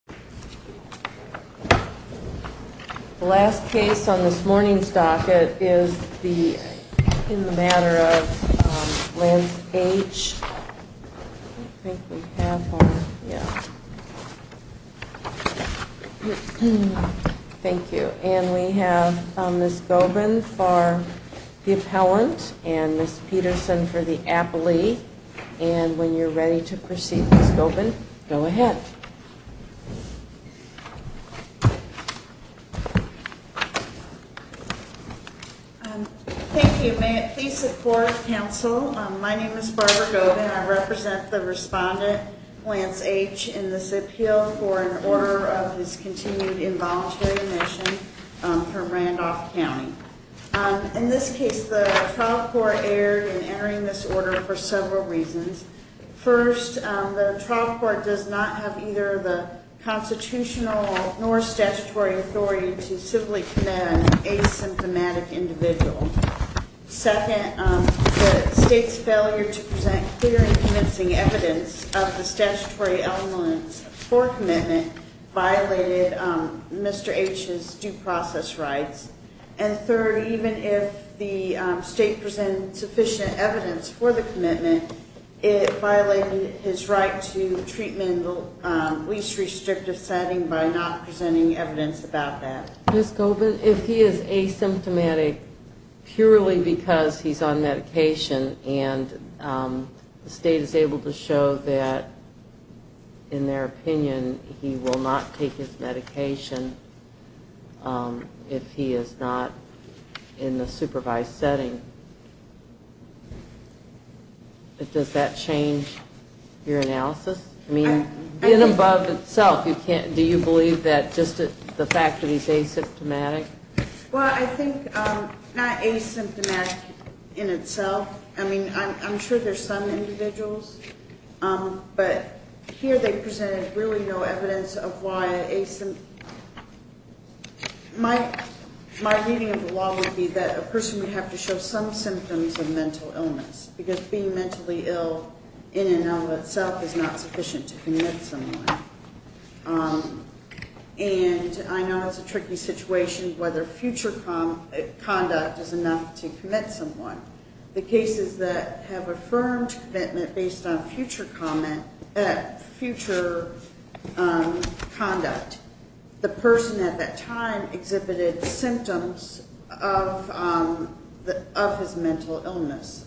We have Ms. Gobin for the appellant and Ms. Peterson for the appellee, and when you're ready, Ms. Gobin. Thank you. May it please the Court of Counsel, my name is Barbara Gobin. I represent the respondent, Lance H., in this appeal for an order of his continued involuntary admission from Randolph County. In this case, the trial court erred in entering this order for several reasons. First, the trial court does not have either the constitutional nor statutory authority to civilly commit an asymptomatic individual. Second, the state's failure to present clear and convincing evidence of the statutory elements for commitment violated Mr. H.'s due process rights. And third, even if the state presented sufficient evidence for the commitment, it violated his right to treatment in the least restrictive setting by not presenting evidence about that. Ms. Gobin, if he is asymptomatic purely because he's on medication and the state is able to show that in their opinion he will not take his medication if he is not in the supervised setting, does that change your analysis? I mean, in and above itself, do you believe that just the fact that he's asymptomatic? Well, I think not asymptomatic in itself. I mean, I'm sure there's some individuals, but here they presented really no evidence of why asymptomatic. My reading of the law would be that a person would have to show some symptoms of mental illness because being mentally ill in and of itself is not sufficient to commit someone. And I know it's a tricky situation whether future conduct is enough to commit someone. The cases that have affirmed commitment based on future conduct, the person at that time exhibited symptoms of his mental illness,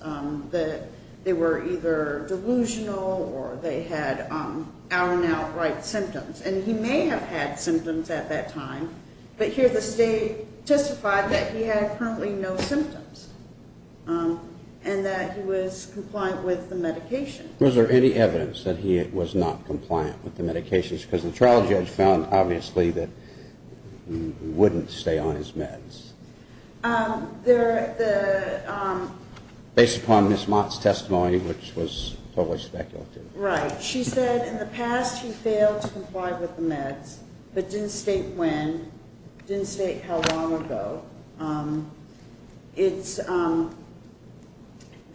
that they were either delusional or they had out and out right symptoms. And he may have had symptoms at that time, but here the state testified that he had currently no symptoms and that he was compliant with the medication. Was there any evidence that he was not compliant with the medications? Because the trial judge found obviously that he wouldn't stay on his meds. Based upon Ms. Mott's testimony, which was totally speculative. Right. She said in the past he failed to comply with the meds, but didn't state when, didn't state how long ago.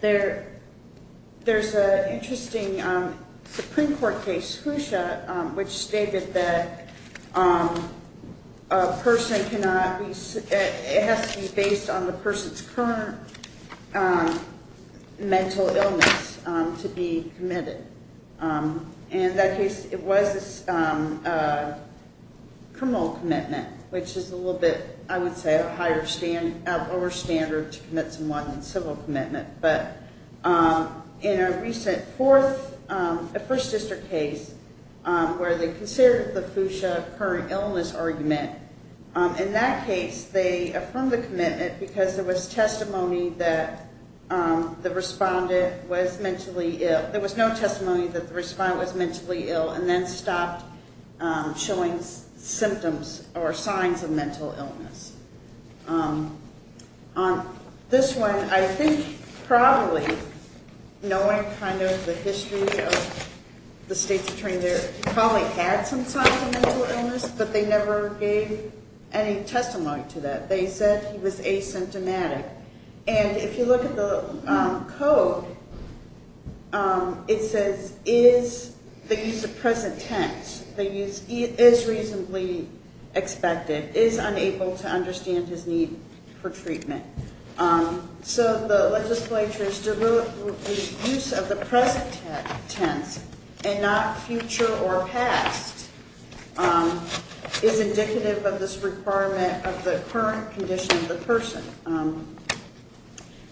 There's an interesting Supreme Court case, Fuchsia, which stated that a person cannot be, it has to be based on the person's criminal commitment, which is a little bit, I would say, a higher standard, a lower standard to commit someone in civil commitment. But in a recent fourth, a first district case where they considered the Fuchsia current illness argument, in that case they affirmed the commitment because there was testimony that the respondent was mentally ill. There was no testimony that the respondent was mentally ill and then stopped showing symptoms or signs of mental illness. On this one, I think probably, knowing kind of the history of the state's attorney there, probably had some signs of mental illness, but they never gave any testimony to that. They said he was asymptomatic. And if you look at the code, it says, is the use of present tense, the use is reasonably expected, is unable to understand his need for treatment. So the legislature's use of the present tense and not future or past is indicative of this requirement of the current condition of the person.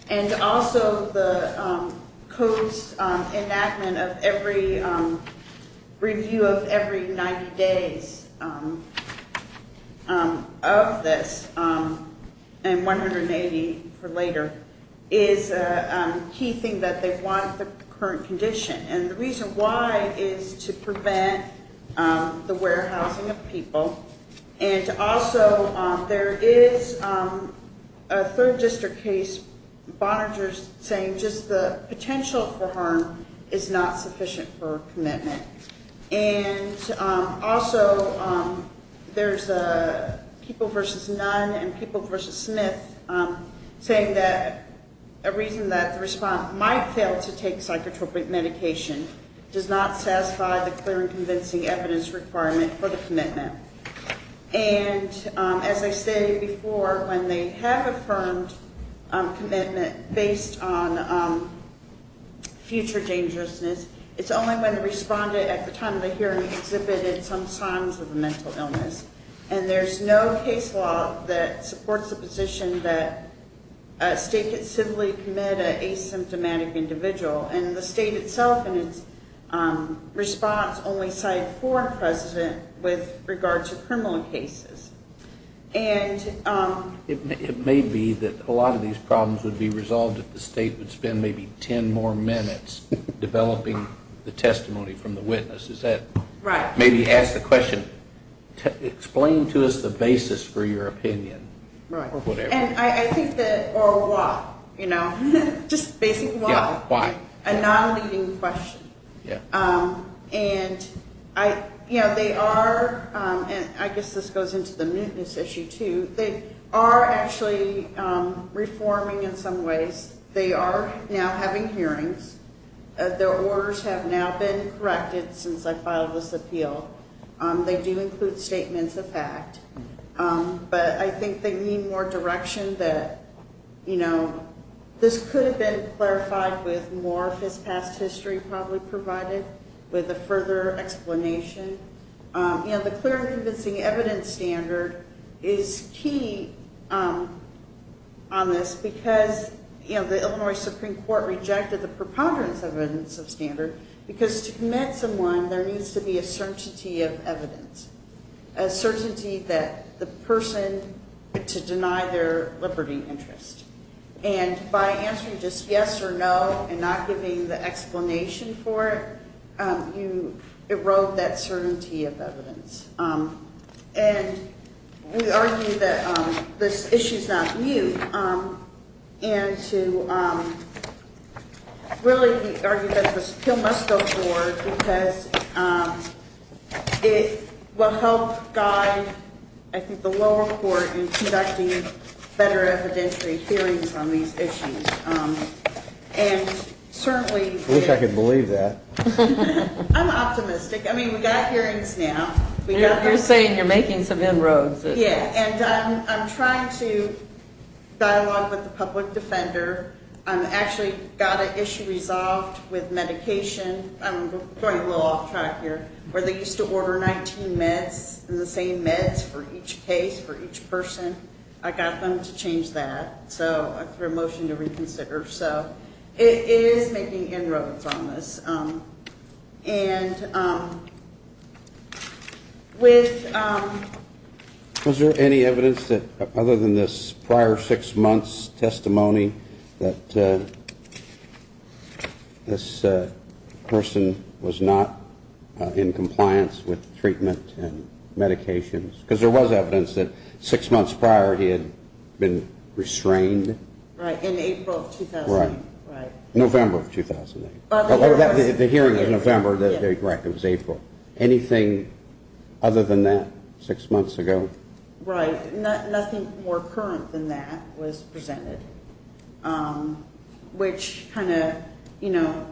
And also the code's enactment of every review of every 90 days of this, and 180 for later, is a key thing that they want the current condition. And the there is a third district case, Boninger's saying just the potential for harm is not sufficient for commitment. And also there's people versus Nunn and people versus Smith saying that a reason that the respondent might fail to take psychotropic medication does not satisfy the clear and as I stated before, when they have affirmed commitment based on future dangerousness, it's only when the respondent at the time of the hearing exhibited some signs of a mental illness. And there's no case law that supports the position that a state could simply commit an asymptomatic individual. And the state itself and its response only cite four precedent with regard to criminal cases. And it may be that a lot of these problems would be resolved if the state would spend maybe 10 more minutes developing the testimony from the witness. Is that right? Maybe ask the question, explain to us the basis for your opinion. Right. And I think that or why, just basically why. A non-leading question. And they are, and I guess this goes into the mootness issue too, they are actually reforming in some ways. They are now having hearings. Their orders have now been corrected since I filed this appeal. They do include statements of fact, but I think they need more direction that, you know, this could have been clarified with more of his past history probably provided with a further explanation. You know, the clear and convincing evidence standard is key on this because, you know, the Illinois Supreme Court rejected the preponderance evidence of standard because to commit someone there needs to be a certainty of evidence, a certainty that the person to deny their liberty interest. And by answering just yes or no and not giving the explanation for it, you erode that certainty of evidence. And we argue that this issue is not new. And to really argue that this appeal must go will help guide, I think, the lower court in conducting better evidentiary hearings on these issues. And certainly, I wish I could believe that. I'm optimistic. I mean, we got hearings now. We got, you're saying you're making some inroads. Yeah. And I'm trying to dialogue with the public defender. I'm actually got an issue resolved with medication. I'm going a little off track here, where they used to order 19 meds and the same meds for each case for each person. I got them to change that. So I threw a motion to reconsider. So it is making inroads on this. And with. Was there any evidence that other than this prior six months testimony that this person was not in compliance with treatment and medications? Because there was evidence that six months prior, he had been restrained. Right. In April of 2000. Right. November of 2008. The hearing in November. That's right. It was April. Anything other than that six months ago? Right. Nothing more current than that was presented, which kind of, you know,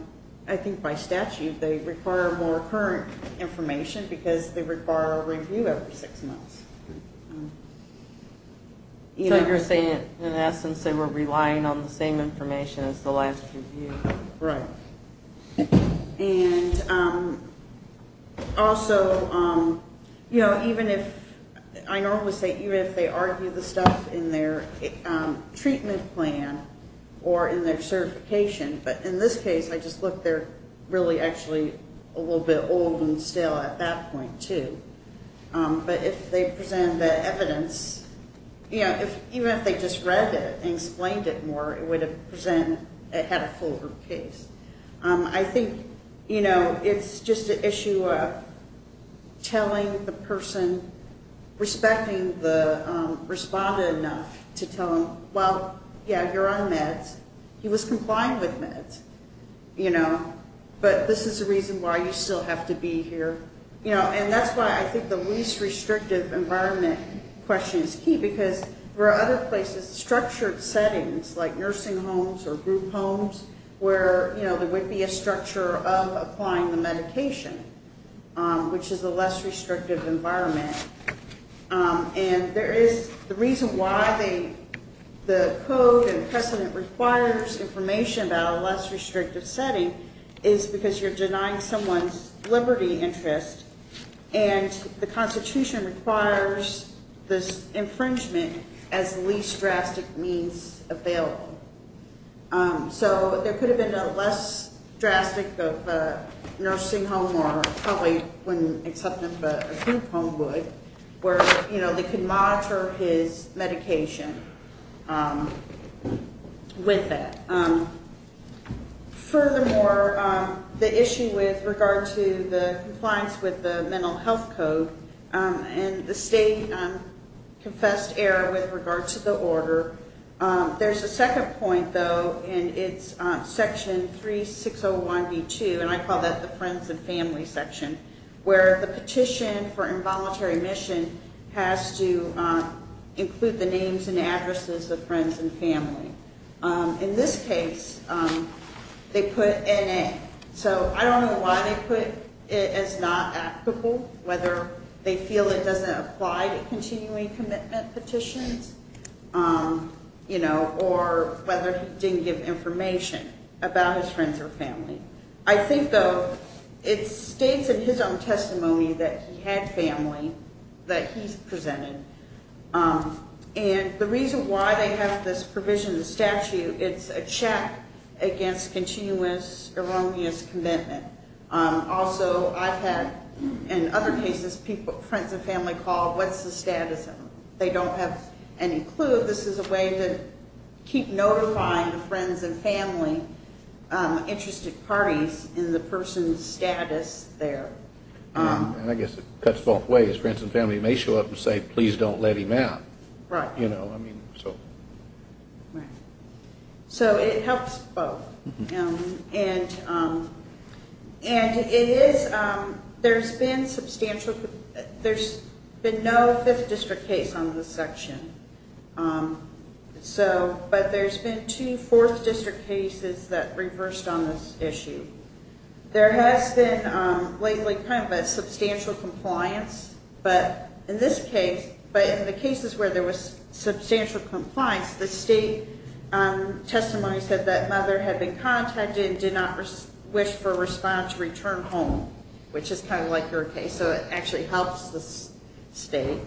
I think by statute, they require more current information because they require a review every six months. You know, you're saying, in essence, they were relying on the same information as the last review. Right. And also, you know, even if I normally say even if they argue the stuff in their treatment plan or in their certification, but in this case, I just look, they're really actually a little bit old and still at that point, too. But if they present the evidence, you know, even if they just read it and explained it more, it would have presented, it had a full case. I think, you know, it's just an issue of telling the person, respecting the respondent enough to tell him, well, yeah, you're on meds. He was complying with meds, you know, but this is the reason why you still have to be here. You know, and that's why I think the least restrictive environment question is key because there are other places, structured settings like nursing homes or group homes, where, you know, there would be a structure of applying the medication, which is a less restrictive environment. And there is the reason why the code and precedent requires information about a less restrictive setting is because you're denying someone's liberty interest and the constitution requires this infringement as least drastic means available. So there could have been a less drastic of a nursing home or probably wouldn't accept it, but a group home would, where, you know, they could monitor his medication with it. Furthermore, the issue with regard to the compliance with the mental health code and the state confessed error with regard to the order. There's a second point, though, and it's section 3601B2, and I call that the friends and family section, where the petition for involuntary admission has to include the names and addresses of friends and family. In this case, they put N.A. So I don't know why they put it as not applicable, whether they feel it doesn't apply to continuing commitment petitions, you know, or whether he didn't give information about his friends or family. I think, though, it states in his own family that he's presented, and the reason why they have this provision in the statute, it's a check against continuous erroneous commitment. Also, I've had, in other cases, people, friends and family call, what's the status of them? They don't have any clue. This is a way to keep notifying the friends and family interested parties in the person's status there. And I guess it cuts both ways. Friends and family may show up and say, please don't let him out. Right. You know, I mean, so. Right. So it helps both. And it is, there's been substantial, there's been no fifth district case on this section. So, but there's been two fourth district cases that reversed on this issue. There has been lately kind of a substantial compliance, but in this case, but in the cases where there was substantial compliance, the state testimony said that mother had been contacted and did not wish for a respondent to return home, which is kind of like your case. So it actually helps the state.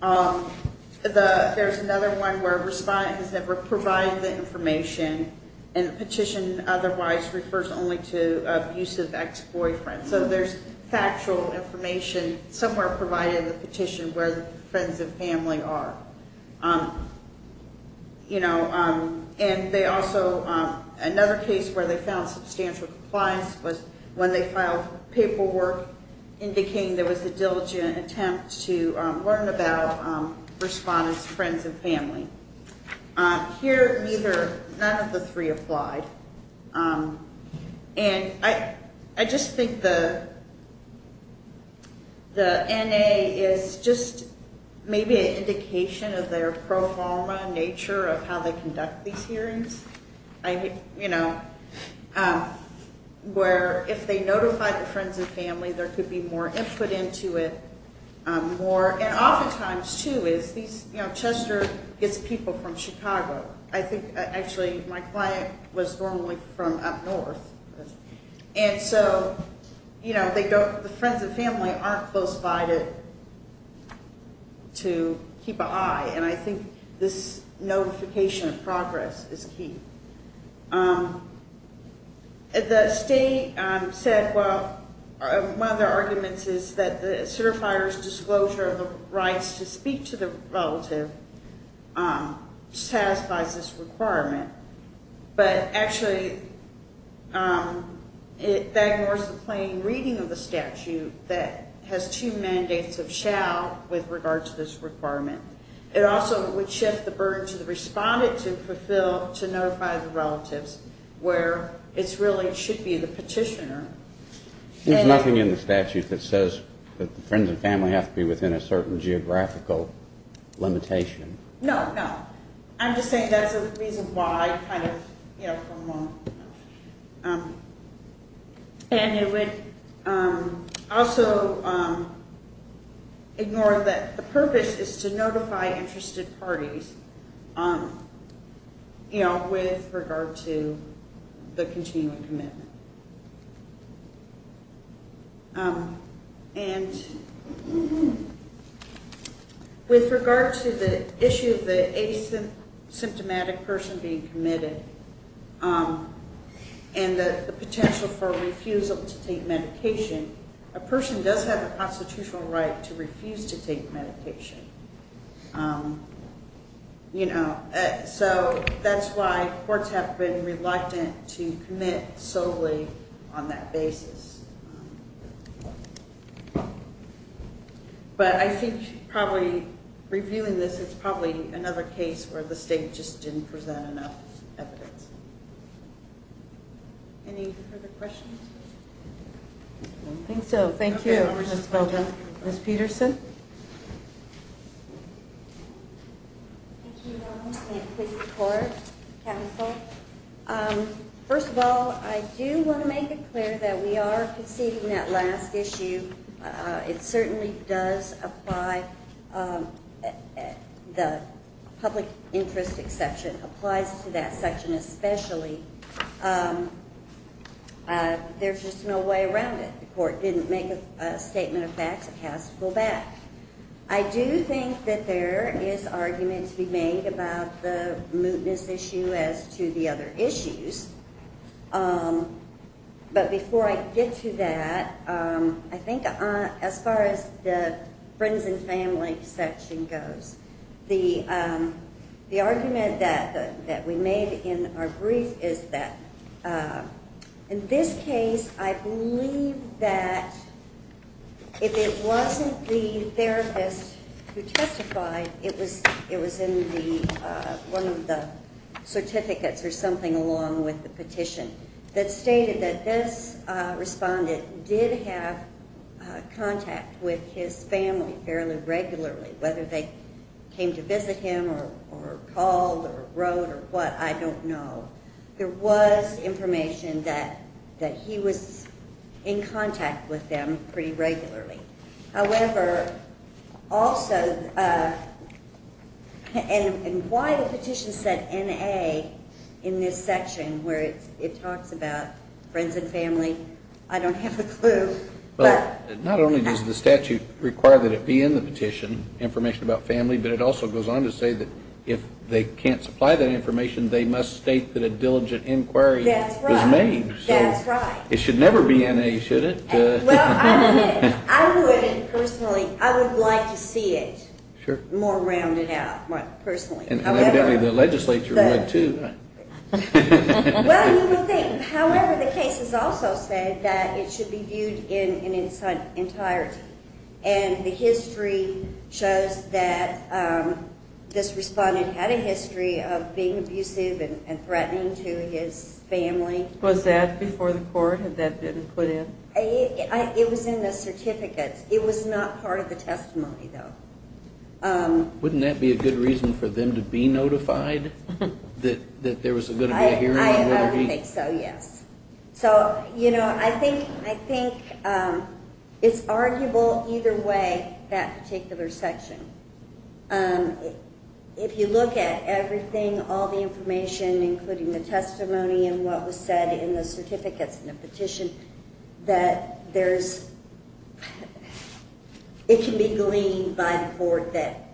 There's another one where a respondent has never provided the information and the petition otherwise refers only to abusive ex-boyfriend. So there's factual information somewhere provided in the petition where the friends and family are. You know, and they also, another case where they found substantial compliance was when they filed paperwork indicating there was a diligent attempt to learn about respondent's friends and family. Here, neither, none of the three applied. And I, I just think the, the NA is just maybe an indication of their pro forma nature of how they conduct these hearings. I, you know, where if they notify the friends and family, there could be more input into it more. And oftentimes too is these, you know, Chester gets people from Chicago. I think actually my client was normally from up north. And so, you know, they don't, the friends and family aren't close by to, to keep an eye. And I think this notification of progress is key. The state said, well, one of their arguments is that the certifier's disclosure of the rights to speak to the relative satisfies this requirement. But actually that ignores the plain reading of the statute that has two mandates of shall with regard to this requirement. It also would shift the burden to the respondent to fulfill, to notify the relatives where it's really, it should be the petitioner. There's nothing in the statute that says that the friends and family have to be within a certain geographical limitation. No, no. I'm just saying that's the reason why kind of, you know, from, and it would also ignore that the purpose is to notify the parties, you know, with regard to the continuing commitment. And with regard to the issue of the asymptomatic person being committed and the potential for refusal to take medication, a person does have a constitutional right to refuse to take medication. You know, so that's why courts have been reluctant to commit solely on that basis. But I think probably reviewing this, it's probably another case where the state just didn't present enough evidence. Any further questions? I think so. Thank you. Ms. Peterson. First of all, I do want to make it clear that we are proceeding that last issue. It certainly does apply, the public interest exception applies to that section especially. There's just no way around it. The court didn't make a statement of facts. It has to go back. I do think that there is argument to be made about the mootness issue as to the other issues. But before I get to that, I think as far as the friends and family section goes, the argument that we made in our brief is that in this case, I believe that if it wasn't the therapist who testified, it was in the, one of the certificates or something along the petition that stated that this respondent did have contact with his family fairly regularly, whether they came to visit him or called or wrote or what, I don't know. There was information that he was in contact with them pretty regularly. However, also, and why the petition said N.A. in this section where it talks about friends and family, I don't have a clue. Not only does the statute require that it be in the petition, information about family, but it also goes on to say that if they can't supply that information, they must state that a diligent inquiry was made. That's right. It should never be N.A., should it? Well, I would personally, I would like to see it more rounded out, personally. And evidently the legislature would too. Well, you would think. However, the case has also said that it should be viewed in its entirety. And the history shows that this respondent had a history of being abusive and threatening to his family. Was that before the court? Had that been put in? It was in the certificates. It was not part of the testimony, though. Wouldn't that be a good reason for them to be notified that there was going to be a hearing? I don't think so, yes. So, you know, I think it's arguable either way, that particular section. If you look at everything, all the information, including the testimony and what was said in the certificates and the petition, that there's, it can be gleaned by the court that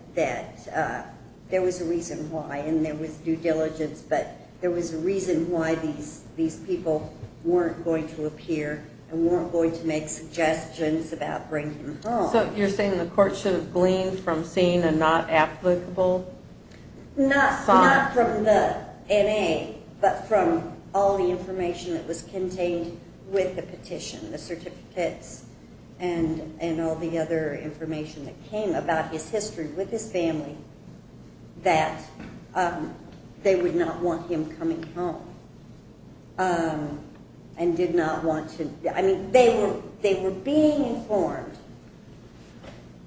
there was a reason why and there was due diligence, but there was a reason why these people weren't going to appear and weren't going to make suggestions about bringing them home. So you're saying the court should have gleaned from seeing a not applicable? Not from the N.A., but from all the information that was contained with the petition, the certificates, and all the other information that came about his history with his family, that they would not want him coming home and did not want to, I mean, they were being informed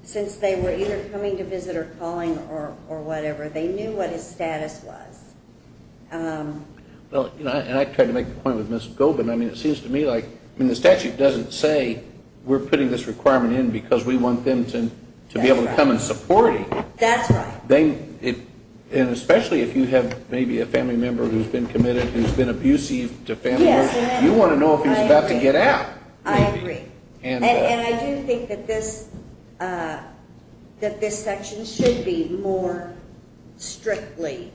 since they were either coming to visit or calling or whatever. They knew what his status was. Well, you know, and I tried to make the point with Ms. Gobin, I mean, it seems to me like, I mean, the statute doesn't say we're putting this requirement in because we want them to be able to come and support him. That's right. And especially if you have maybe a family member who's been committed, who's been abusive to family members, you want to know if he was about to get out. I agree. And I do think that this section should be more strictly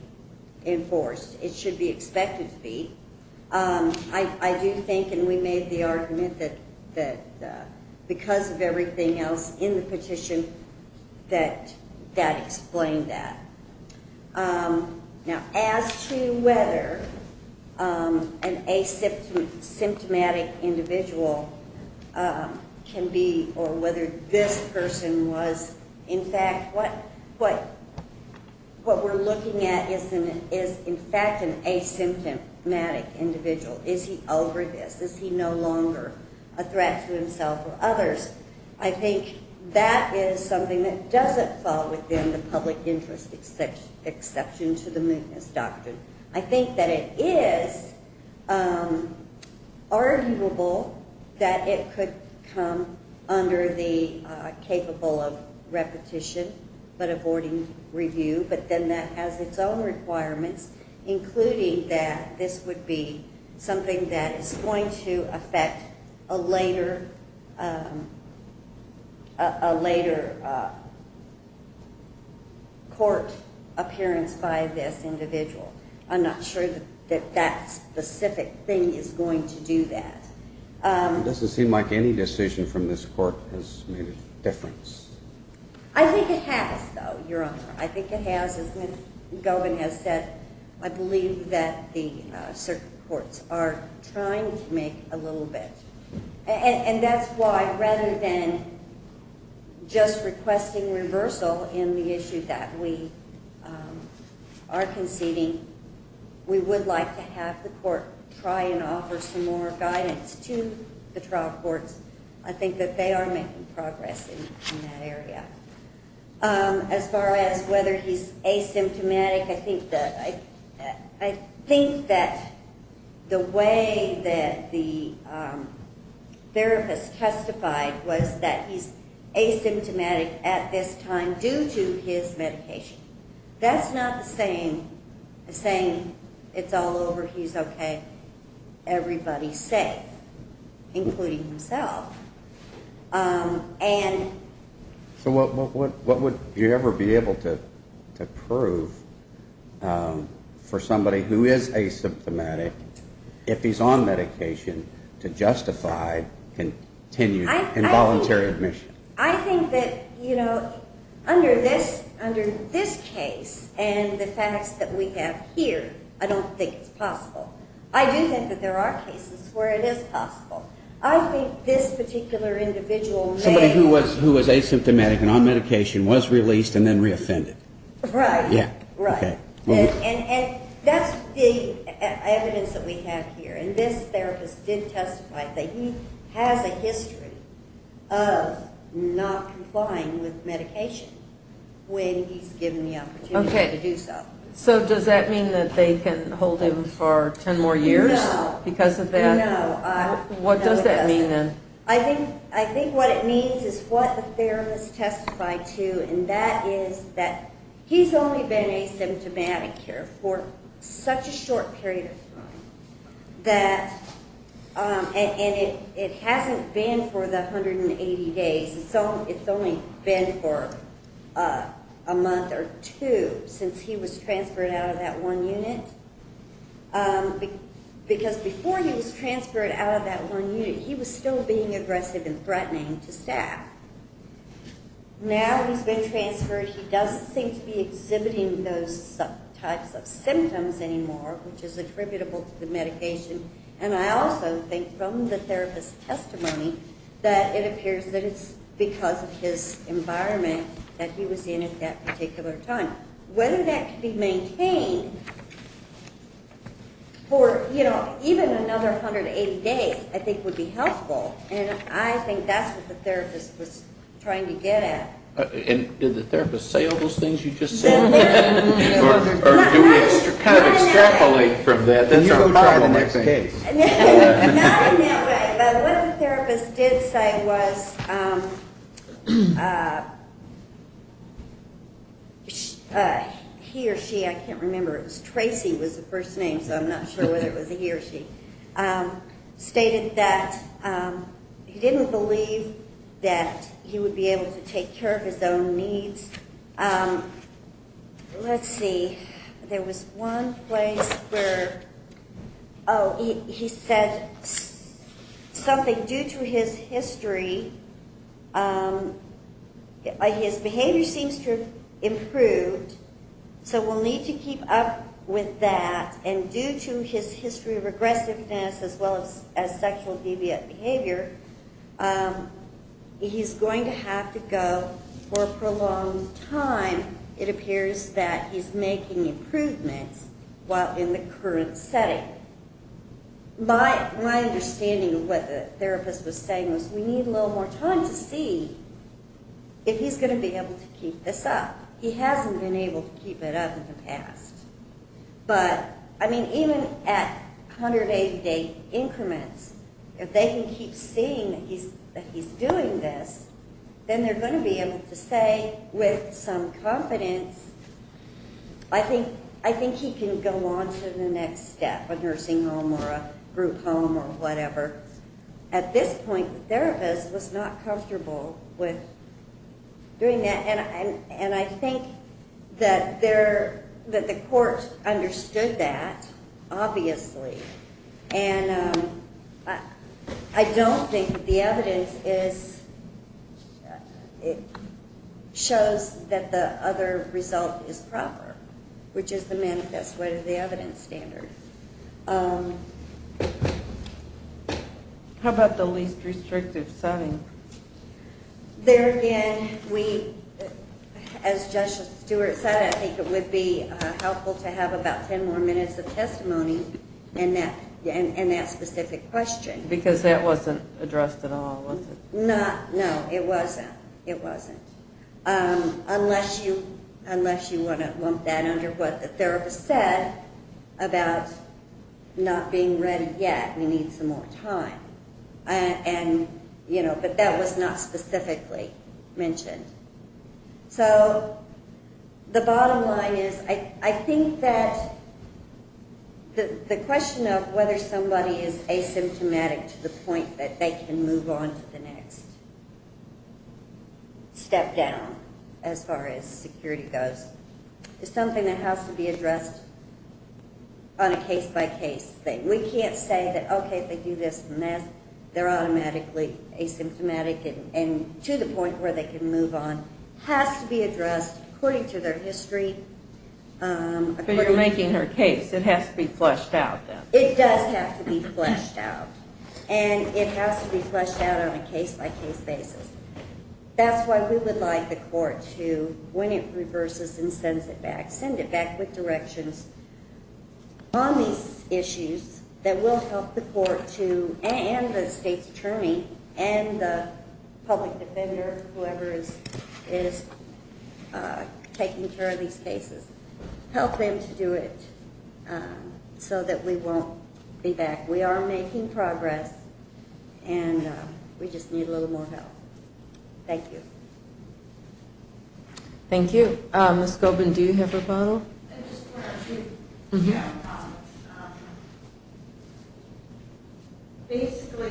enforced. It should be expected to be. I do think, and we made the argument that because of everything else in the statute, whether this individual can be, or whether this person was, in fact, what we're looking at is, in fact, an asymptomatic individual. Is he over this? Is he no longer a threat to himself or others? I think that is something that doesn't fall within the public interest exception to the mootness doctrine. I think that it is arguable that it could come under the capable of repetition but avoiding review, but then that has its own requirements, including that this would be I'm not sure that that specific thing is going to do that. It doesn't seem like any decision from this court has made a difference. I think it has, though, Your Honor. I think it has. As Ms. Gobin has said, I believe that the circuit courts are trying to make a little bit. And that's why rather than just requesting reversal in the issue that we are conceding, we would like to have the court try and offer some more guidance to the trial courts. I think that they are making progress in that area. As far as whether he's asymptomatic, I think that the way that the was that he's asymptomatic at this time due to his medication. That's not the same as saying it's all over, he's okay, everybody's safe, including himself. And so what would you ever be able to prove for somebody who is asymptomatic if he's on medication to justify and continue involuntary admission? I think that, you know, under this case and the facts that we have here, I don't think it's possible. I do think that there are cases where it is possible. I think this particular individual may Somebody who was asymptomatic and on medication was released and then reoffended. Right. Yeah. Right. And that's the evidence that we have here. And this therapist did testify that he has a history of not complying with medication when he's given the opportunity to do so. So does that mean that they can hold him for 10 more years because of that? No. What does that mean then? I think what it means is what the therapist testified to, and that is that he's only been asymptomatic here for such a short period of time that, and it hasn't been for the 180 days. It's only been for a month or two since he was transferred out of that one unit. Because before he was transferred out of that one unit, he was still being aggressive and threatening to staff. Now he's been transferred, he doesn't seem to be exhibiting those types of symptoms anymore, which is attributable to the medication. And I also think from the therapist's testimony that it appears that it's because of his environment that he was in at that particular time. Whether that could be maintained for, you know, even another 180 days, I think would be helpful. And I think that's what the therapist was trying to get at. And did the therapist say all those things you just said? Or do we kind of extrapolate from that? Not in that way, but what the therapist did say was he or she, I can't remember, it was Tracy was the first name, so I'm not sure whether it was he or she, stated that he didn't believe that he would be able to take care of his own needs. Let's see, there was one place where, oh, he said something due to his history. His behavior seems to have improved, so we'll need to keep up with that. And due to his history of aggressiveness, as well as sexual deviant behavior, he's going to have to go for a prolonged time. It appears that he's making improvements while in the current setting. My understanding of what the therapist was saying was we need a little more time to see if he's going to be able to keep this up. He hasn't been able to keep it up in the past. But, I mean, even at 180-day increments, if they can keep seeing that he's doing this, then they're going to be able to say with some confidence, I think he can go on to the next step, a nursing home or a group home or whatever. At this point, the therapist was not comfortable with doing that. And I think that the court understood that, obviously. And I don't think that the evidence is, it shows that the other result is proper, which is the manifest way to the evidence standard. How about the least restrictive setting? There again, we, as Judge Stewart said, I think it would be helpful to have about 10 more minutes of testimony in that specific question. Because that wasn't addressed at all, was it? Not, no, it wasn't. It wasn't. Unless you want that under what the therapist said about not being ready yet, we need some more time. And, you know, but that was not specifically mentioned. So the bottom line is, I think that the question of whether somebody is asymptomatic to the point that they can move on to the next step down, as far as security goes, is something that has to be addressed on a case-by-case thing. We can't say that, okay, they do this and that, they're automatically asymptomatic and to the point where they can move on, has to be addressed according to their history. But you're making her case, it has to be fleshed out then. It does have to be fleshed out. And it has to be fleshed out on a case-by-case basis. That's why we would like the court to, when it reverses and sends it back, send it back with directions on these issues that will help the court to, and the state's attorney, and the public defender, whoever is taking care of these cases, help them to do it so that we won't be back. We are making progress, and we just need a little more help. Thank you. Thank you. Ms. Goldman, do you have a follow-up? Basically,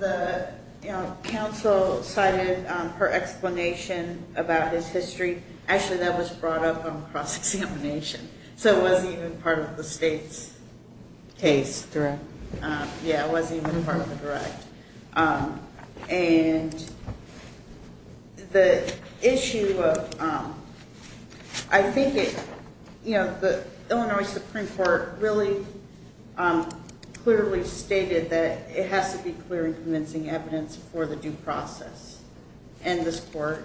the, you know, counsel cited her explanation about his history. Actually, that was brought up on cross-examination, so it wasn't even part of the state's case. Yeah, it wasn't even part of the direct. And the issue of, I think it, you know, the Illinois Supreme Court really clearly stated that it has to be clear and convincing evidence for the due process. And that's why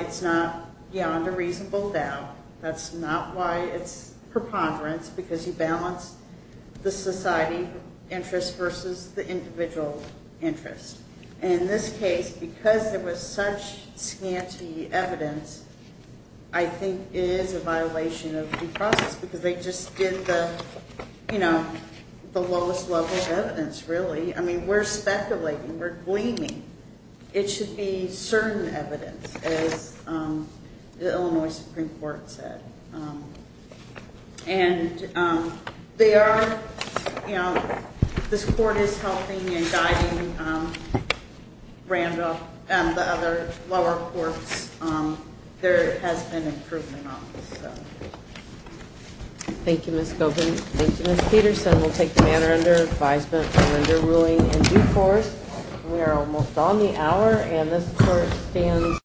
it's not beyond a reasonable doubt. That's not why it's preponderance, because you balance the society interest versus the individual interest. And in this case, because there was such scanty evidence, I think it is a violation of due process, because they just did the, you know, the lowest level of evidence, really. I mean, we're speculating, we're gleaming. It should be certain evidence, as the Illinois Supreme Court said. And they are, you know, this court is helping and guiding Randolph and the other lower courts. There has been improvement on this, so. Thank you, Ms. Goldman. Thank you, Ms. Peterson. We'll take the matter under advisement for underruling in due course. We are almost on the hour, and this court stands.